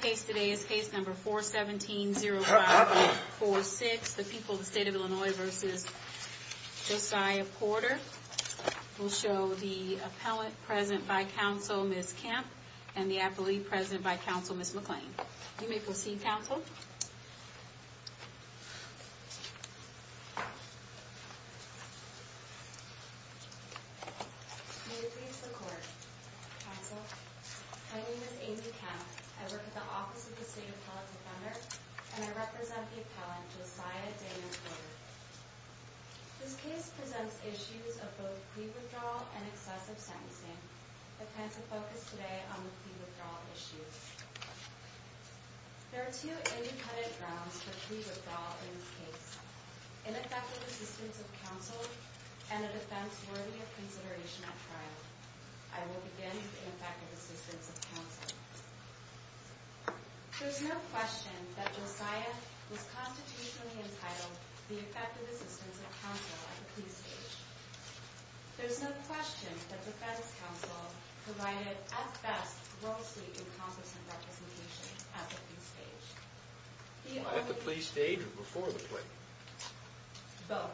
case today is case number 417-05-46. The people of the state of Illinois versus Josiah Porter. We'll show the appellant present by counsel, Ms. Kemp, and the appellee present by counsel, Ms. McClain. You may proceed, counsel. You may proceed to the court, counsel. My name is Amy Kemp. I work at the Office of the State Appellate Defender, and I represent the appellant, Josiah Daniel Porter. This case presents issues of both plea withdrawal and excessive sentencing. The defense will focus today on the plea withdrawal issue. There are two independent grounds for plea withdrawal in this case, ineffective assistance of counsel and a defense worthy of consideration at trial. I will begin with ineffective assistance of counsel. There's no question that Josiah was constitutionally entitled to the effective assistance of counsel at the plea stage. There's no question that defense counsel provided, at best, grossly incompetent representation at the plea stage. At the plea stage or before the plea? Both,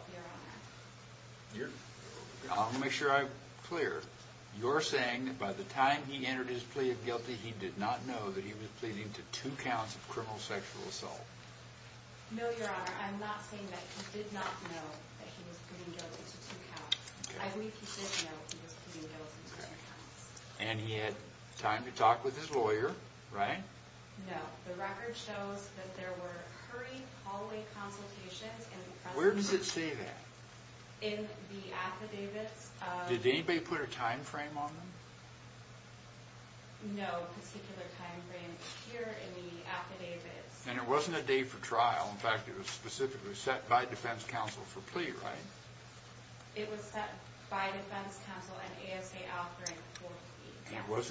Your Honor. I'll make sure I'm clear. You're saying that by the time he entered his plea of guilty, he did not know that he was pleading to two counts of criminal sexual assault? No, Your Honor. I'm not saying that he did not know that he was pleading guilty to two counts. I believe he did know he was pleading guilty to three counts. And he had time to talk with his lawyer, right? No. The record shows that there were hurried hallway consultations. Where does it say that? In the affidavits. Did anybody put a time frame on them? No, a particular time frame is here in the affidavits. And it wasn't a day for trial. In fact, it was specifically set by defense counsel for plea, right? It was set by defense counsel and ASA Alfred for plea, yes.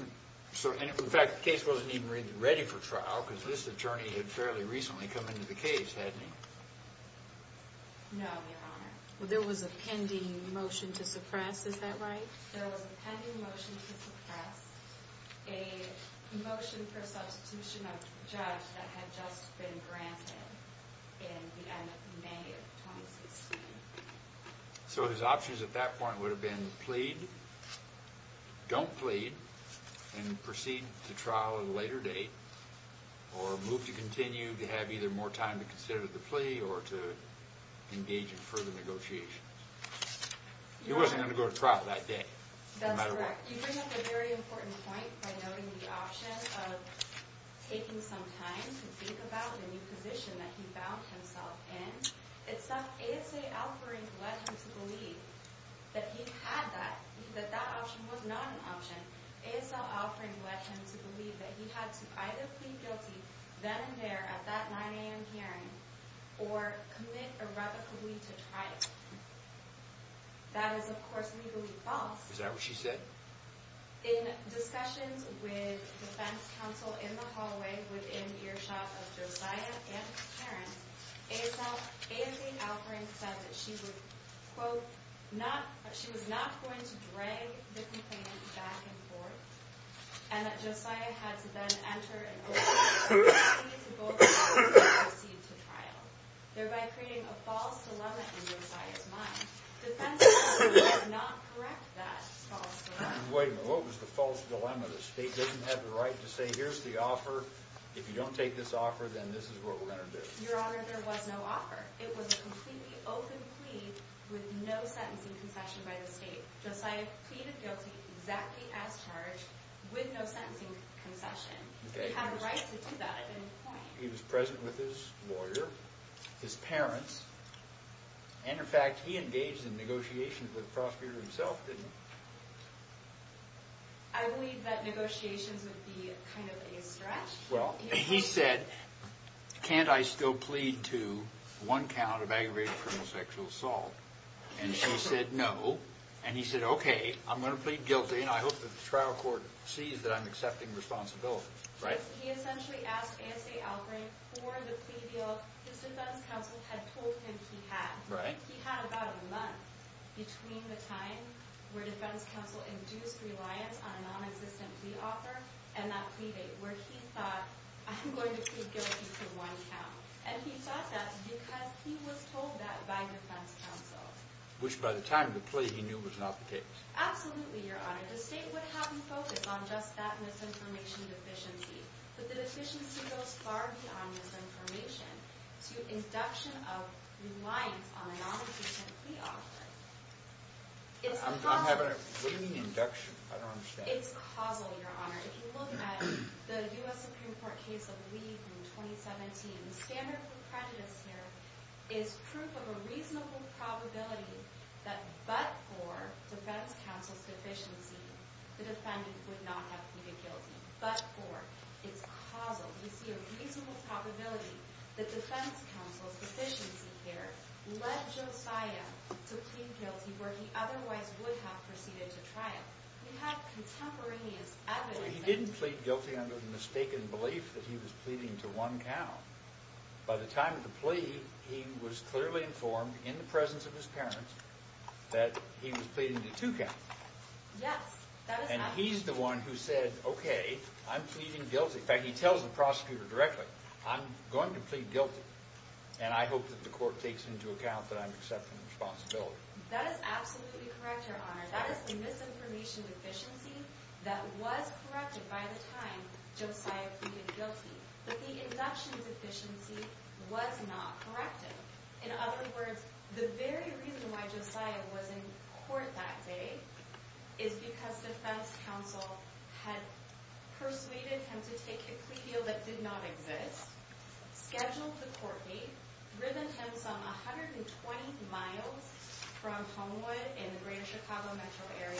In fact, the case wasn't even ready for trial because this attorney had fairly recently come into the case, hadn't he? No, Your Honor. There was a pending motion to suppress, is that right? There was a pending motion to suppress, a motion for substitution of the judge that had just been granted in the end of May of 2016. So his options at that point would have been plead, don't plead, and proceed to trial at a later date, or move to continue to have either more time to consider the plea or to engage in further negotiations. He wasn't going to go to trial that day. That's correct. You bring up a very important point by noting the option of taking some time to think about the new position that he found himself in. It's that ASA Alfred led him to believe that he had that, that that option was not an option. ASA Alfred led him to believe that he had to either plead guilty then and there at that 9 a.m. hearing or commit irrevocably to trial. That is, of course, legally false. Is that what she said? In discussions with defense counsel in the hallway within earshot of Josiah and his parents, ASA Alfred said that she would, quote, not, she was not going to drag the complaint back and forth, and that Josiah had to then enter and plead guilty to both options and proceed to trial, thereby creating a false dilemma in Josiah's mind. Defense counsel did not correct that false dilemma. Wait a minute. What was the false dilemma? The state doesn't have the right to say, here's the offer. If you don't take this offer, then this is what we're going to do. Your Honor, there was no offer. It was a completely open plea with no sentencing concession by the state. Josiah pleaded guilty exactly as charged with no sentencing concession. He had a right to do that at any point. He was present with his lawyer, his parents. And, in fact, he engaged in negotiations with Frostbeard himself, didn't he? I believe that negotiations would be kind of a stretch. Well, he said, can't I still plead to one count of aggravated criminal sexual assault? And she said, no. And he said, okay, I'm going to plead guilty, and I hope that the trial court sees that I'm accepting responsibility. He essentially asked A.J. Albright for the plea deal his defense counsel had told him he had. He had about a month between the time where defense counsel induced reliance on a nonexistent plea offer and that plea date where he thought, I'm going to plead guilty to one count. And he thought that because he was told that by defense counsel. Which, by the time of the plea, he knew was not the case. Absolutely, Your Honor. The state would have you focus on just that misinformation deficiency. But the deficiency goes far beyond misinformation to induction of reliance on a nonexistent plea offer. I'm having a fleeting induction. I don't understand. It's causal, Your Honor. If you look at the U.S. Supreme Court case of Lee from 2017, the standard for prejudice here is proof of a reasonable probability that but for defense counsel's deficiency, the defendant would not have pleaded guilty, but for. It's causal. We see a reasonable probability that defense counsel's deficiency here led Josiah to plead guilty where he otherwise would have proceeded to trial. We have contemporaneous evidence. He didn't plead guilty under the mistaken belief that he was pleading to one count. By the time of the plea, he was clearly informed in the presence of his parents that he was pleading to two counts. Yes. And he's the one who said, OK, I'm pleading guilty. In fact, he tells the prosecutor directly, I'm going to plead guilty. And I hope that the court takes into account that I'm accepting the responsibility. That is absolutely correct, Your Honor. That is the misinformation deficiency that was corrected by the time Josiah pleaded guilty. But the induction deficiency was not corrected. In other words, the very reason why Josiah was in court that day is because defense counsel had persuaded him to take a plea deal that did not exist, scheduled the court date, driven him some 120 miles from Homewood in the greater Chicago metro area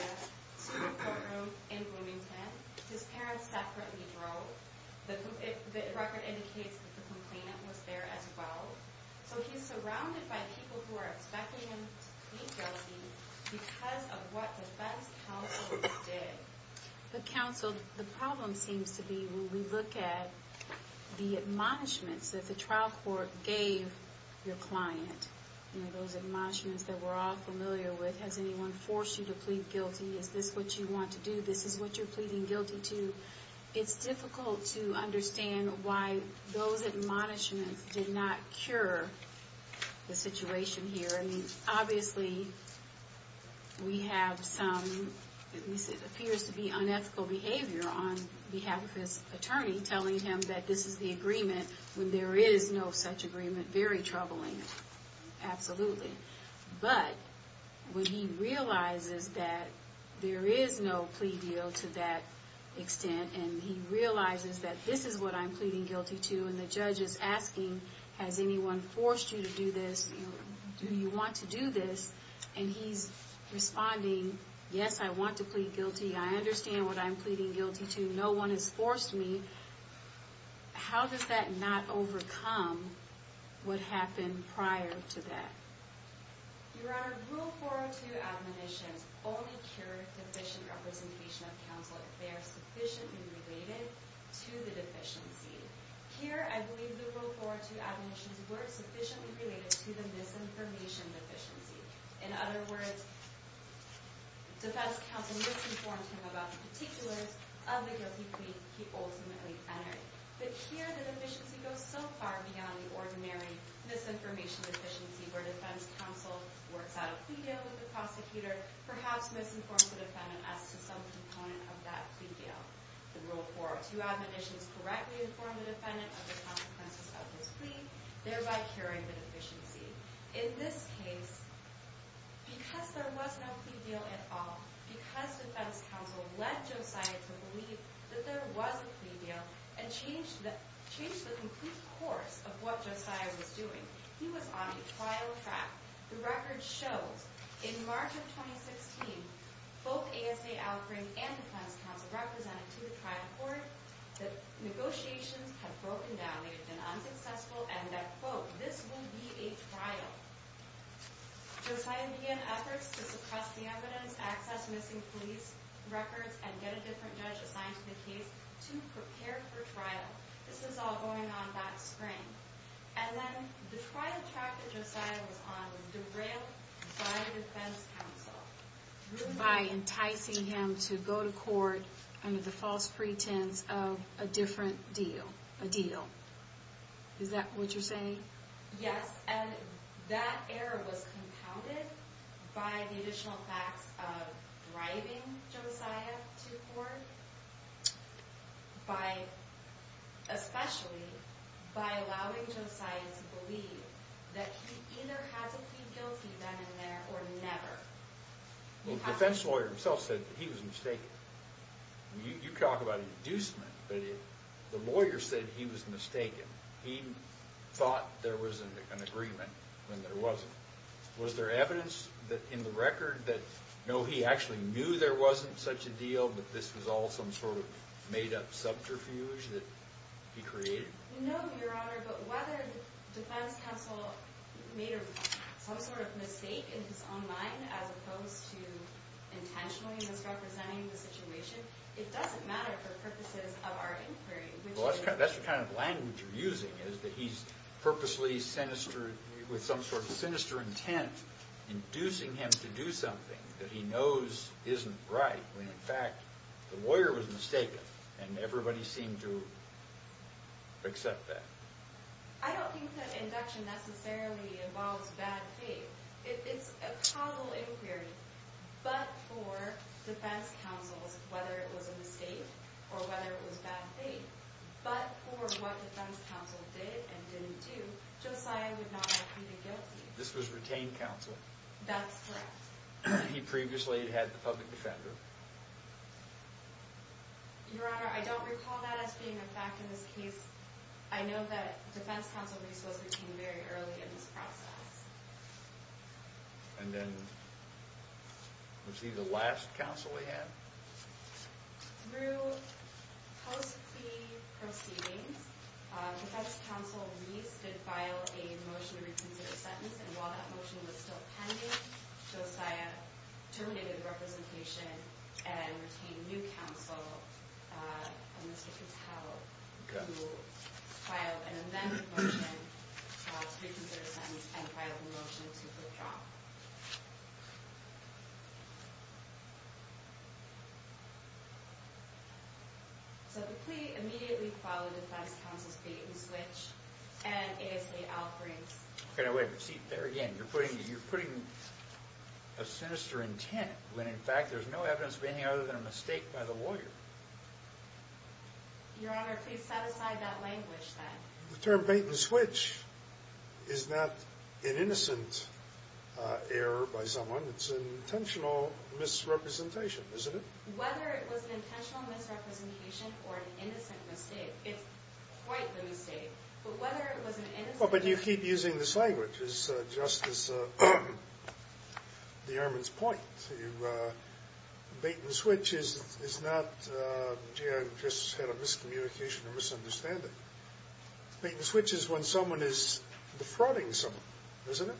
to the courtroom in Bloomington. His parents separately drove. The record indicates that the complainant was there as well. So he's surrounded by people who are expecting him to plead guilty because of what defense counsel did. But counsel, the problem seems to be when we look at the admonishments that the trial court gave your client, those admonishments that we're all familiar with, has anyone forced you to plead guilty? Is this what you want to do? This is what you're pleading guilty to? It's difficult to understand why those admonishments did not cure the situation here. I mean, obviously, we have some, at least it appears to be, unethical behavior on behalf of his attorney telling him that this is the agreement when there is no such agreement. Very troubling. Absolutely. But when he realizes that there is no plea deal to that extent, and he realizes that this is what I'm pleading guilty to, and the judge is asking, has anyone forced you to do this? Do you want to do this? And he's responding, yes, I want to plead guilty. I understand what I'm pleading guilty to. No one has forced me. How does that not overcome what happened prior to that? Your Honor, Rule 402 admonitions only cure deficient representation of counsel if they are sufficiently related to the deficiency. Here, I believe the Rule 402 admonitions were sufficiently related to the misinformation deficiency. In other words, defense counsel misinformed him about the particulars of the guilty plea he ultimately entered. But here, the deficiency goes so far beyond the ordinary misinformation deficiency where defense counsel works out a plea deal with the prosecutor, perhaps misinformed the defendant as to some component of that plea deal. The Rule 402 admonitions correctly inform the defendant of the consequences of his plea, thereby curing the deficiency. In this case, because there was no plea deal at all, because defense counsel led Josiah to believe that there was a plea deal and changed the complete course of what Josiah was doing, he was on a trial track. The record shows, in March of 2016, both ASA Al Green and defense counsel represented to the trial court that negotiations had broken down, they had been unsuccessful, and that, quote, this will be a trial. Josiah began efforts to suppress the evidence, access missing police records, and get a different judge assigned to the case to prepare for trial. This was all going on that spring. And then the trial track that Josiah was on was derailed by defense counsel, by enticing him to go to court under the false pretense of a different deal, a deal. Is that what you're saying? Yes, and that error was compounded by the additional facts of driving Josiah to court, especially by allowing Josiah to believe that he either had to plead guilty then and there or never. The defense lawyer himself said that he was mistaken. You talk about an inducement, but the lawyer said he was mistaken. He thought there was an agreement when there wasn't. Was there evidence in the record that, no, he actually knew there wasn't such a deal, but this was all some sort of made-up subterfuge that he created? No, Your Honor, but whether defense counsel made some sort of mistake in his own mind as opposed to intentionally misrepresenting the situation, it doesn't matter for purposes of our inquiry. Well, that's the kind of language you're using is that he's purposely sinister, with some sort of sinister intent, inducing him to do something that he knows isn't right when, in fact, the lawyer was mistaken, and everybody seemed to accept that. I don't think that induction necessarily involves bad faith. It's a causal inquiry, but for defense counsels, whether it was a mistake or whether it was bad faith, but for what defense counsel did and didn't do, Josiah would not have pleaded guilty. This was retained counsel. That's correct. He previously had the public defender. Your Honor, I don't recall that as being a fact in this case. I know that defense counsel Reese was retained very early in this process. And then was he the last counsel he had? Through post-plea proceedings, defense counsel Reese did file a motion to reconsider a sentence, and while that motion was still pending, Josiah terminated the representation and retained new counsel, Mr. Patel, who filed an amended motion to reconsider a sentence and filed a motion to withdraw. So the plea immediately followed defense counsel's feet and switched, and ASA Alfred's You're putting a sinister intent when, in fact, there's no evidence of any other than a mistake by the lawyer. Your Honor, please set aside that language then. The term bait and switch is not an innocent error by someone. It's an intentional misrepresentation, isn't it? Whether it was an intentional misrepresentation or an innocent mistake, it's quite the mistake. But whether it was an innocent mistake Well, but you keep using this language just as the airman's point. Bait and switch is not just a miscommunication or misunderstanding. Bait and switch is when someone is defrauding someone, isn't it?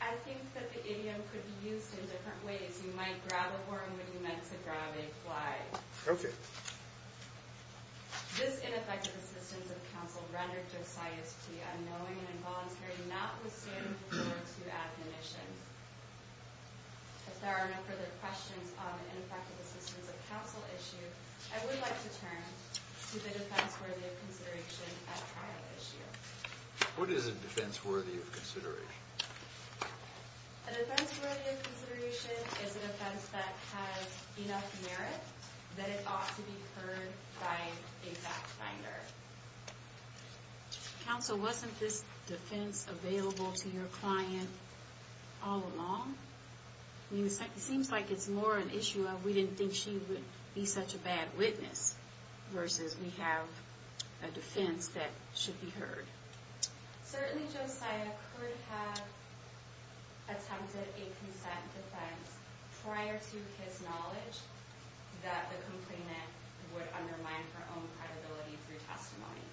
I think that the idiom could be used in different ways. You might grab a worm when you meant to grab a fly. Okay. This ineffective assistance of counsel rendered Josiah's plea unknowing and involuntary and not withstandable for two admonitions. If there are no further questions on the ineffective assistance of counsel issue, I would like to turn to the defense worthy of consideration at trial issue. A defense worthy of consideration is a defense that has enough merit that it ought to be heard by a fact finder. Counsel, wasn't this defense available to your client all along? It seems like it's more an issue of we didn't think she would be such a bad witness versus we have a defense that should be heard. Certainly, Josiah could have attempted a consent defense prior to his knowledge that the complainant would undermine her own credibility through testimony.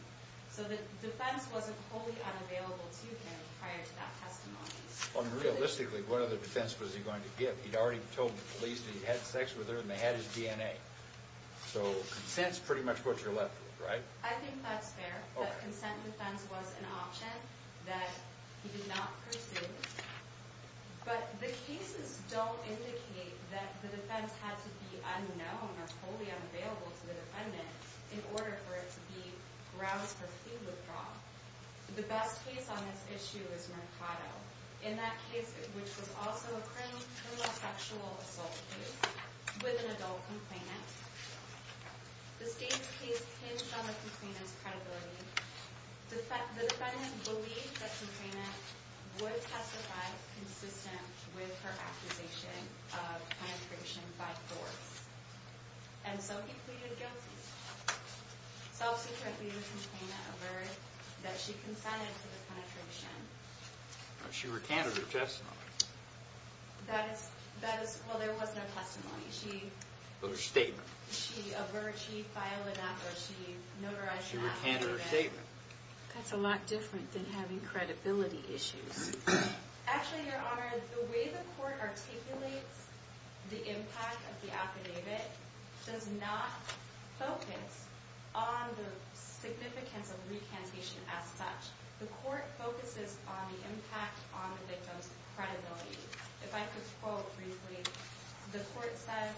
So the defense wasn't wholly unavailable to him prior to that testimony. Realistically, what other defense was he going to give? He'd already told the police that he had sex with her and they had his DNA. So consent's pretty much what you're left with, right? I think that's fair. The consent defense was an option that he did not pursue. But the cases don't indicate that the defense had to be unknown or wholly unavailable to the defendant in order for it to be grounds for plea withdrawal. The best case on this issue is Mercado. In that case, which was also a criminal sexual assault case with an adult complainant. The state's case hinged on the complainant's credibility. The defendant believed that the complainant would testify consistent with her accusation of penetration by force. And so he pleaded guilty. Subsequently, the complainant alerted that she consented to the penetration. She recanted her testimony. Well, there was no testimony. But her statement. She filed an act where she notarized her affidavit. She recanted her statement. That's a lot different than having credibility issues. Actually, Your Honor, the way the court articulates the impact of the affidavit does not focus on the significance of recantation as such. The court focuses on the impact on the victim's credibility. If I could quote briefly, the court says,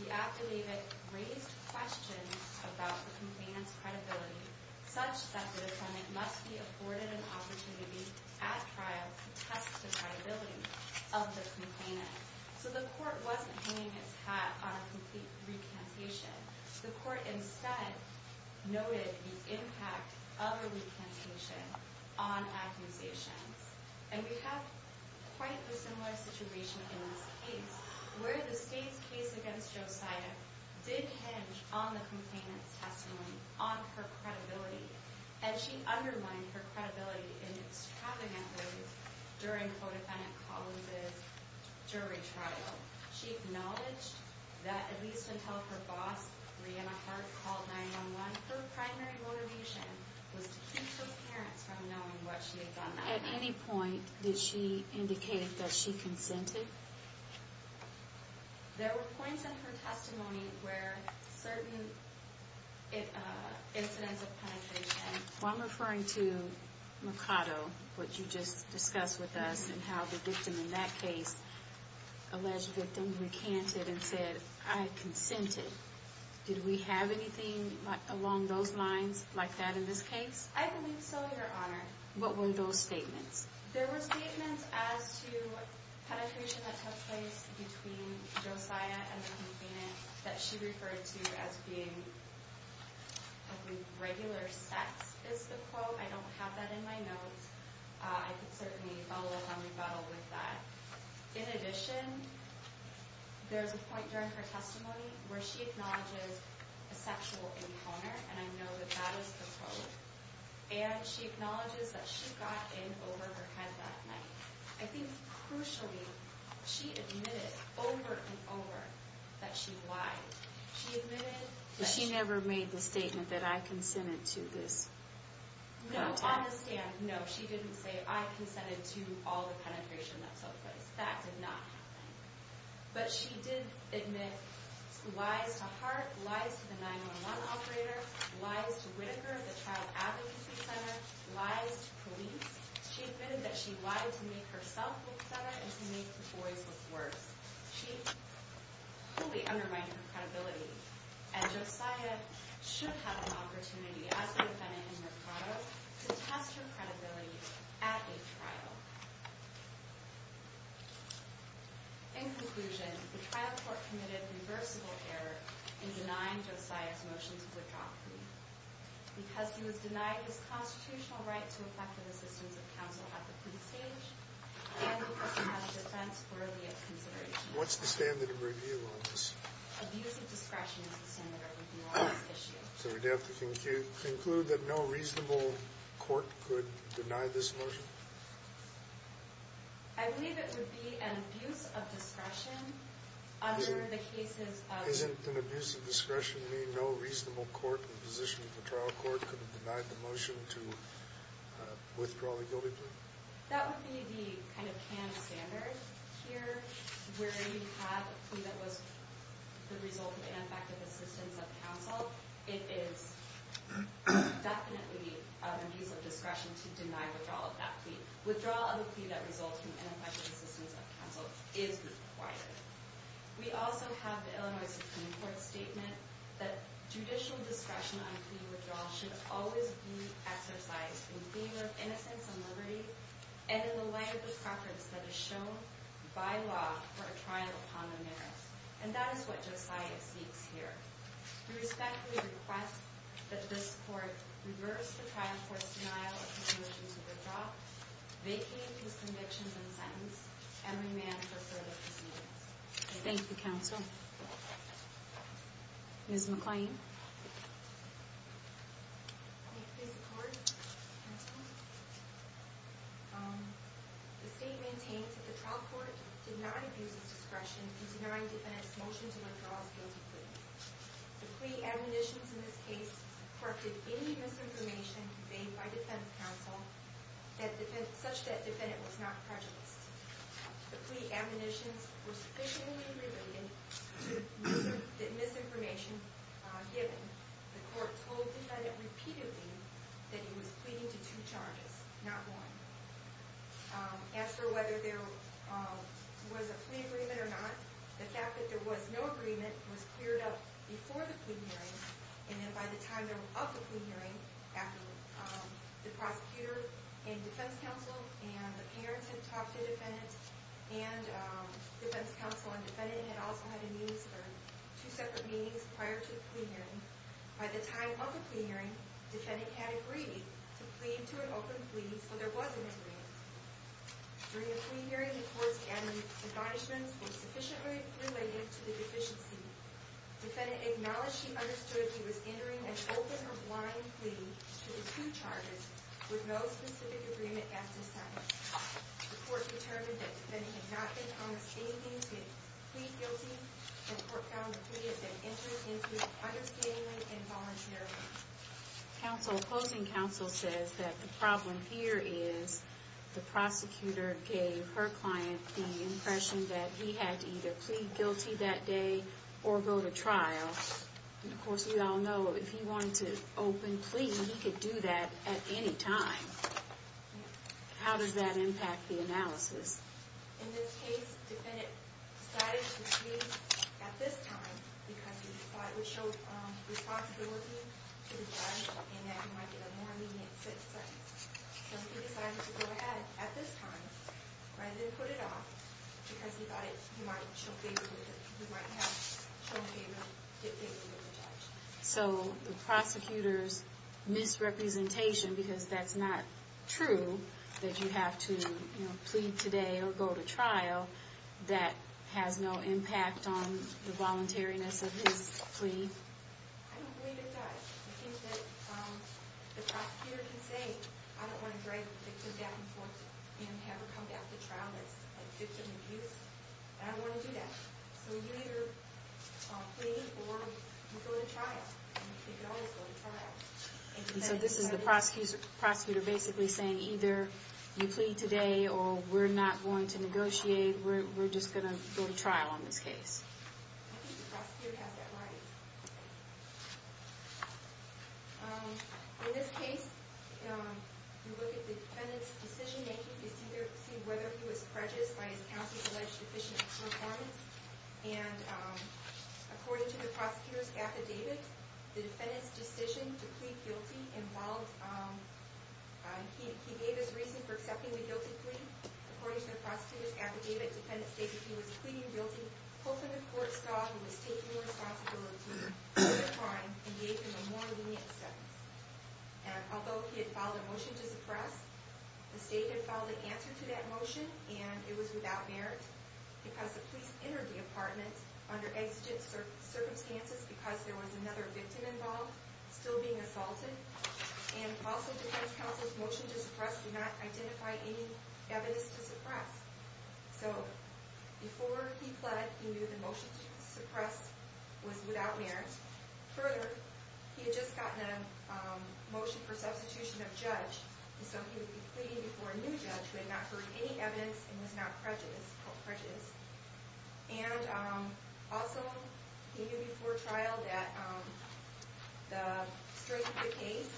The affidavit raised questions about the complainant's credibility such that the defendant must be afforded an opportunity at trial to test the credibility of the complainant. So the court wasn't hanging its hat on a complete recantation. The court instead noted the impact of a recantation on accusations. And we have quite a similar situation in this case where the state's case against Joe Sida did hinge on the complainant's testimony, on her credibility. And she undermined her credibility inextricably during her defendant Collins' jury trial. She acknowledged that at least until her boss, Breanna Hart, called 911, her primary motivation was to keep her parents from knowing what she had done that night. At any point did she indicate that she consented? There were points in her testimony where certain incidents of penetration Well, I'm referring to Mercado, what you just discussed with us and how the victim in that case, alleged victim, recanted and said, I consented. Did we have anything along those lines like that in this case? I believe so, Your Honor. What were those statements? There were statements as to penetration that took place between Joe Sida and the complainant that she referred to as being, I believe, regular sex, is the quote. I don't have that in my notes. I can certainly follow up on rebuttal with that. In addition, there's a point during her testimony where she acknowledges a sexual encounter, and I know that that is the quote. And she acknowledges that she got in over her head that night. I think, crucially, she admitted over and over that she lied. She admitted that she never made the statement that I consented to this. No, on the stand, no, she didn't say, I consented to all the penetration that took place. That did not happen. But she did admit lies to Hart, lies to the 911 operator, lies to Whitaker, the child advocacy center, lies to police. She admitted that she lied to make herself look better and to make the boys look worse. She fully undermined her credibility. And Josiah should have an opportunity, as the defendant in Mercado, to test her credibility at a trial. In conclusion, the trial court committed reversible error in denying Josiah's motion to withdraw. Because he was denied his constitutional right to effective assistance of counsel at the plea stage, and because he had a defense worthy of consideration. What's the standard of review on this? Abuse of discretion, is the standard of review on this issue. So we'd have to conclude that no reasonable court could deny this motion? I believe it would be an abuse of discretion under the cases of... Isn't an abuse of discretion mean no reasonable court in the position of the trial court could have denied the motion to withdraw the guilty plea? That would be the kind of canned standard here, where you have a plea that was the result of ineffective assistance of counsel. It is definitely an abuse of discretion to deny withdrawal of that plea. Withdrawal of a plea that results from ineffective assistance of counsel is required. We also have the Illinois Supreme Court's statement that judicial discretion on plea withdrawal should always be exercised in favor of innocence and liberty, and in the light of the preference that is shown by law for a trial upon the merits. And that is what Josiah seeks here. We respectfully request that this court reverse the trial court's denial of his motion to withdraw, vacate his convictions and sentence, and remand for further proceedings. Thank you, counsel. Ms. McLean? I thank this court, counsel. The state maintains that the trial court denied abuse of discretion and denied defendant's motion to withdraw his guilty plea. The plea admonitions in this case corrupted any misinformation made by defense counsel such that defendant was not prejudiced. The plea admonitions were sufficiently related to the misinformation given. The court told defendant repeatedly that he was pleading to two charges, not one. As for whether there was a plea agreement or not, the fact that there was no agreement was cleared up before the plea hearing, and then by the time of the plea hearing, after the prosecutor and defense counsel and the parents had talked to defendant, and defense counsel and defendant had also had two separate meetings prior to the plea hearing, by the time of the plea hearing, defendant had agreed to plead to an open plea, so there was an agreement. During the plea hearing, the court's admonishments were sufficiently related to the deficiency. Defendant acknowledged he understood he was entering an open or blind plea to the two charges with no specific agreement as to sentence. The court determined that defendant had not been honest in anything to plead guilty, and the court found the plea had been entered into understandingly and voluntarily. Counsel, opposing counsel says that the problem here is the prosecutor gave her client the impression that he had to either plead guilty that day or go to trial. Of course, we all know if he wanted to open plea, he could do that at any time. How does that impact the analysis? In this case, defendant decided to plead at this time because he thought it would show responsibility to the judge and that he might get a more lenient sentence. So he decided to go ahead at this time rather than put it off because he thought he might have shown favor to the judge. So the prosecutor's misrepresentation, because that's not true, that you have to plead today or go to trial, that has no impact on the voluntariness of his plea? I don't believe it does. I think that the prosecutor can say, I don't want to drag the victim down and have her come back to trial as a victim of abuse, and I don't want to do that. So you either plead or you go to trial. You can always go to trial. So this is the prosecutor basically saying either you plead today or we're not going to negotiate, we're just going to go to trial on this case. I think the prosecutor has that right. In this case, you look at the defendant's decision-making to see whether he was prejudiced by his counsel's alleged deficient performance. And according to the prosecutor's affidavit, the defendant's decision to plead guilty involved – he gave his reason for accepting the guilty plea. According to the prosecutor's affidavit, the defendant stated he was pleading guilty hoping the court saw he was taking responsibility for the crime and gave him a more lenient sentence. And although he had filed a motion to suppress, the state had filed an answer to that motion and it was without merit because the police entered the apartment under exigent circumstances because there was another victim involved still being assaulted. And also the defense counsel's motion to suppress did not identify any evidence to suppress. So before he pled, he knew the motion to suppress was without merit. Further, he had just gotten a motion for substitution of judge, so he would be pleading before a new judge who had not heard any evidence and was not prejudiced. And also, he knew before trial that the strength of the case,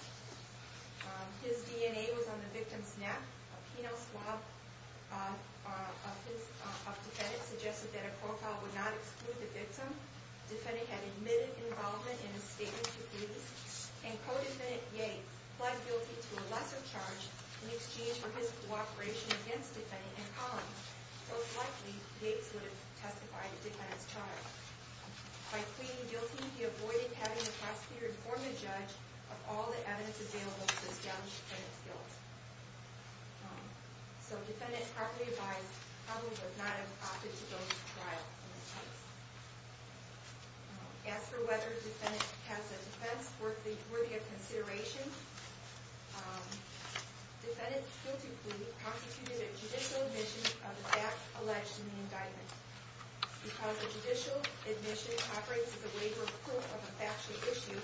his DNA was on the victim's neck. A penal swab of the defendant suggested that a profile would not exclude the victim. The defendant had admitted involvement in a statement to police and co-defendant Yates pled guilty to a lesser charge in exchange for his cooperation against the defendant and Collins. Most likely, Yates would have testified to the defendant's charge. By pleading guilty, he avoided having the prosecutor inform the judge of all the evidence available to establish the defendant's guilt. So defendant properly advised, Collins would not have opted to go to trial in this case. As for whether the defendant has a defense worthy of consideration, defendant's guilty plea constituted a judicial admission of the fact alleged in the indictment. Because a judicial admission operates as a waiver of proof of a factual issue,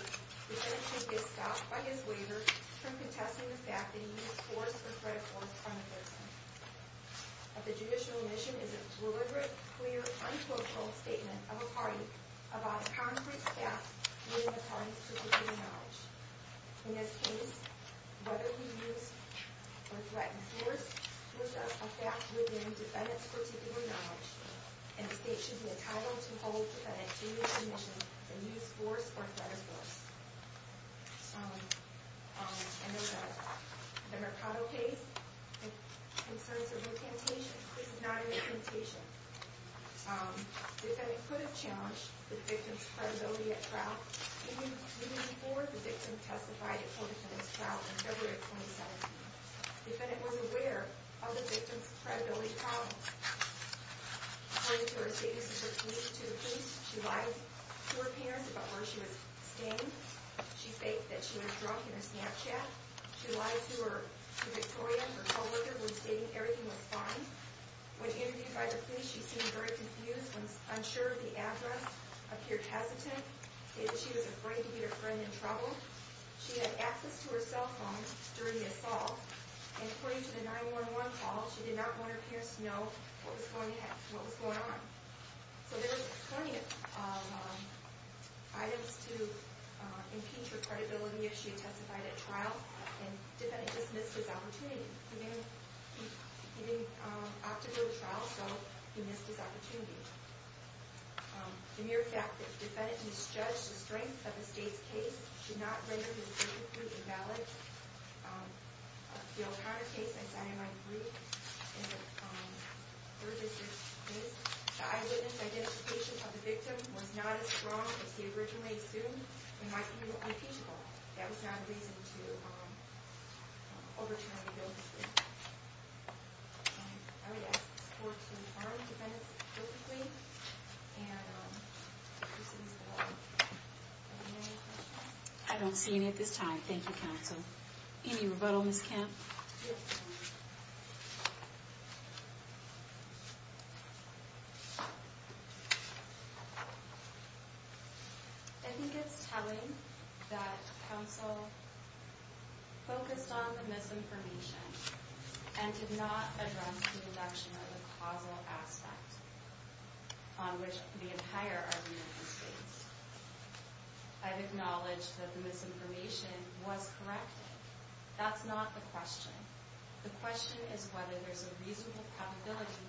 defendant should be stopped by his waiver from contesting the fact that he used force or threat of force on the victim. A judicial admission is a deliberate, clear, untold statement of a party about a concrete fact within the party's particular knowledge. In this case, whether he used or threatened force was a fact within the defendant's particular knowledge, and the state should be entitled to hold the defendant's judicial admission and use force or threat of force. In the Mercado case, in service of the Temptation, the case is not in the Temptation. Defendant could have challenged the victim's credibility at trial, even before the victim testified at Coe Defendant's trial in February of 2017. Defendant was aware of the victim's credibility problems. According to her statements to the police, she lied to her parents about where she was staying. She faked that she was drunk in her Snapchat. She lied to Victoria, her co-worker, when stating everything was fine. When interviewed by the police, she seemed very confused. When unsure of the address, appeared hesitant. She was afraid to get her friend in trouble. She had access to her cell phone during the assault. According to the 9-1-1 call, she did not want her parents to know what was going on. There were plenty of items to impeach her credibility if she testified at trial. Defendant just missed his opportunity. He opted to go to trial, so he missed his opportunity. The mere fact that the defendant misjudged the strength of the state's case did not render his case complete and valid. The O'Connor case, as I might agree, is the third-biggest case. The eyewitness identification of the victim was not as strong as he originally assumed, and why he would be impeachable. That was not a reason to overturn the guilt of the victim. I don't see any at this time. Thank you, counsel. Any rebuttal, Ms. Kemp? Yes, ma'am. I think it's telling that counsel focused on the misinformation and did not address the reduction of the causal aspect on which the entire argument is based. I've acknowledged that the misinformation was corrected. That's not the question. The question is whether there's a reasonable probability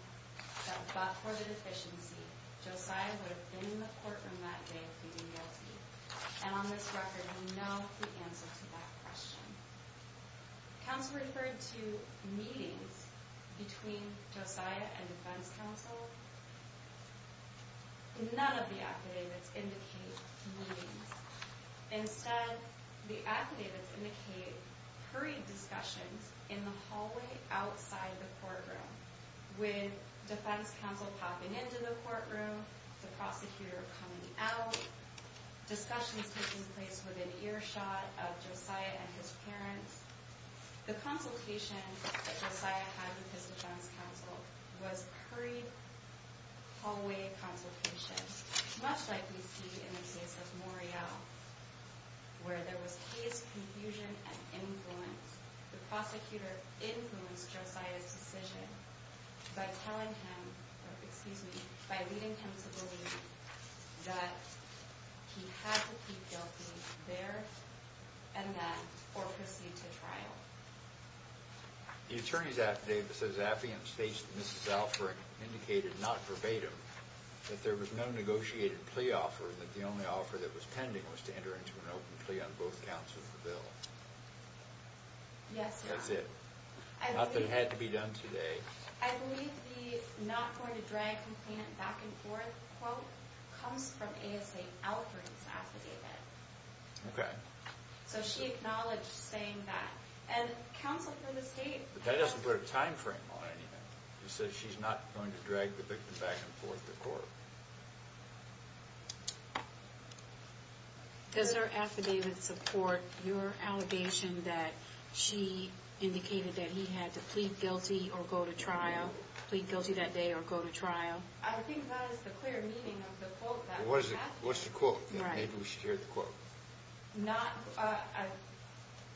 that, but for the deficiency, Josiah would have been in the courtroom that day pleading guilty. And on this record, we know the answer to that question. Counsel referred to meetings between Josiah and defense counsel. None of the affidavits indicate meetings. Instead, the affidavits indicate hurried discussions in the hallway outside the courtroom, with defense counsel popping into the courtroom, the prosecutor coming out, discussions taking place within earshot of Josiah and his parents. The consultation that Josiah had with his defense counsel was hurried hallway consultations, much like we see in the case of Morial, where there was haze, confusion, and influence. The prosecutor influenced Josiah's decision by telling him, excuse me, by leading him to believe that he had to plead guilty there and then or proceed to trial. The attorney's affidavit states that Mrs. Alford indicated, not verbatim, that there was no negotiated plea offer, that the only offer that was pending was to enter into an open plea on both counts of the bill. Yes, Your Honor. That's it. Nothing had to be done today. I believe the not going to drag complaint back and forth quote comes from ASA Alford's affidavit. Okay. So she acknowledged saying that. And counsel for the state... That doesn't put a time frame on anything. She said she's not going to drag the victim back and forth to court. Does her affidavit support your allegation that she indicated that he had to plead guilty or go to trial, plead guilty that day or go to trial? I think that is the clear meaning of the quote. What's the quote? Maybe we should hear the quote.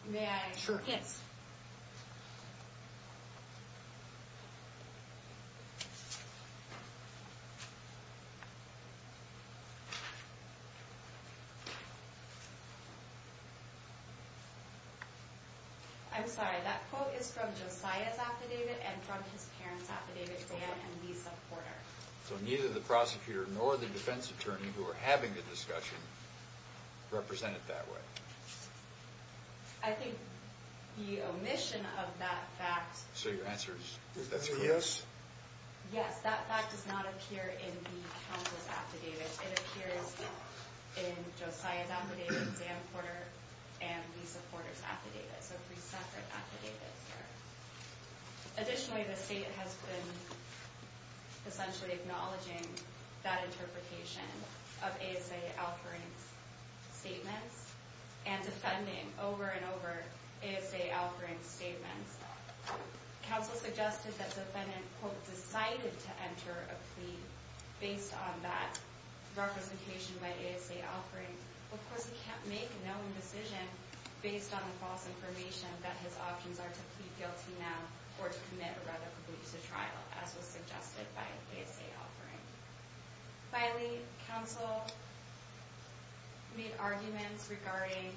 May I? Sure. Yes. I'm sorry. That quote is from Josiah's affidavit and from his parents' affidavit, Dan and Lisa Porter. So neither the prosecutor nor the defense attorney who are having the discussion represent it that way. I think the omission of that fact... So your answer is that's correct? Yes. Yes. That fact does not appear in the counsel's affidavit. It appears in Josiah's affidavit, Dan Porter, and Lisa Porter's affidavit. So three separate affidavits there. Additionally, the state has been essentially acknowledging that interpretation of ASA Alferin's statements and defending over and over ASA Alferin's statements. Counsel suggested that the defendant, quote, decided to enter a plea based on that representation by ASA Alferin. Of course, he can't make a known decision based on the false information that his options are to plead guilty now or to commit a radical breach of trial, as was suggested by ASA Alferin. Finally, counsel made arguments regarding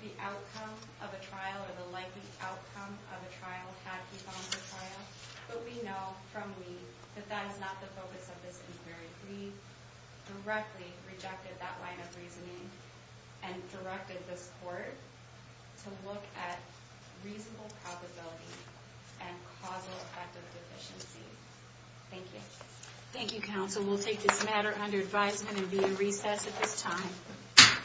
the outcome of a trial or the likely outcome of a trial had he gone to trial. But we know from Lee that that is not the focus of this inquiry. We directly rejected that line of reasoning and directed this court to look at reasonable probability and causal effective deficiency. Thank you. Thank you, counsel. We'll take this matter under advisement and be in recess at this time.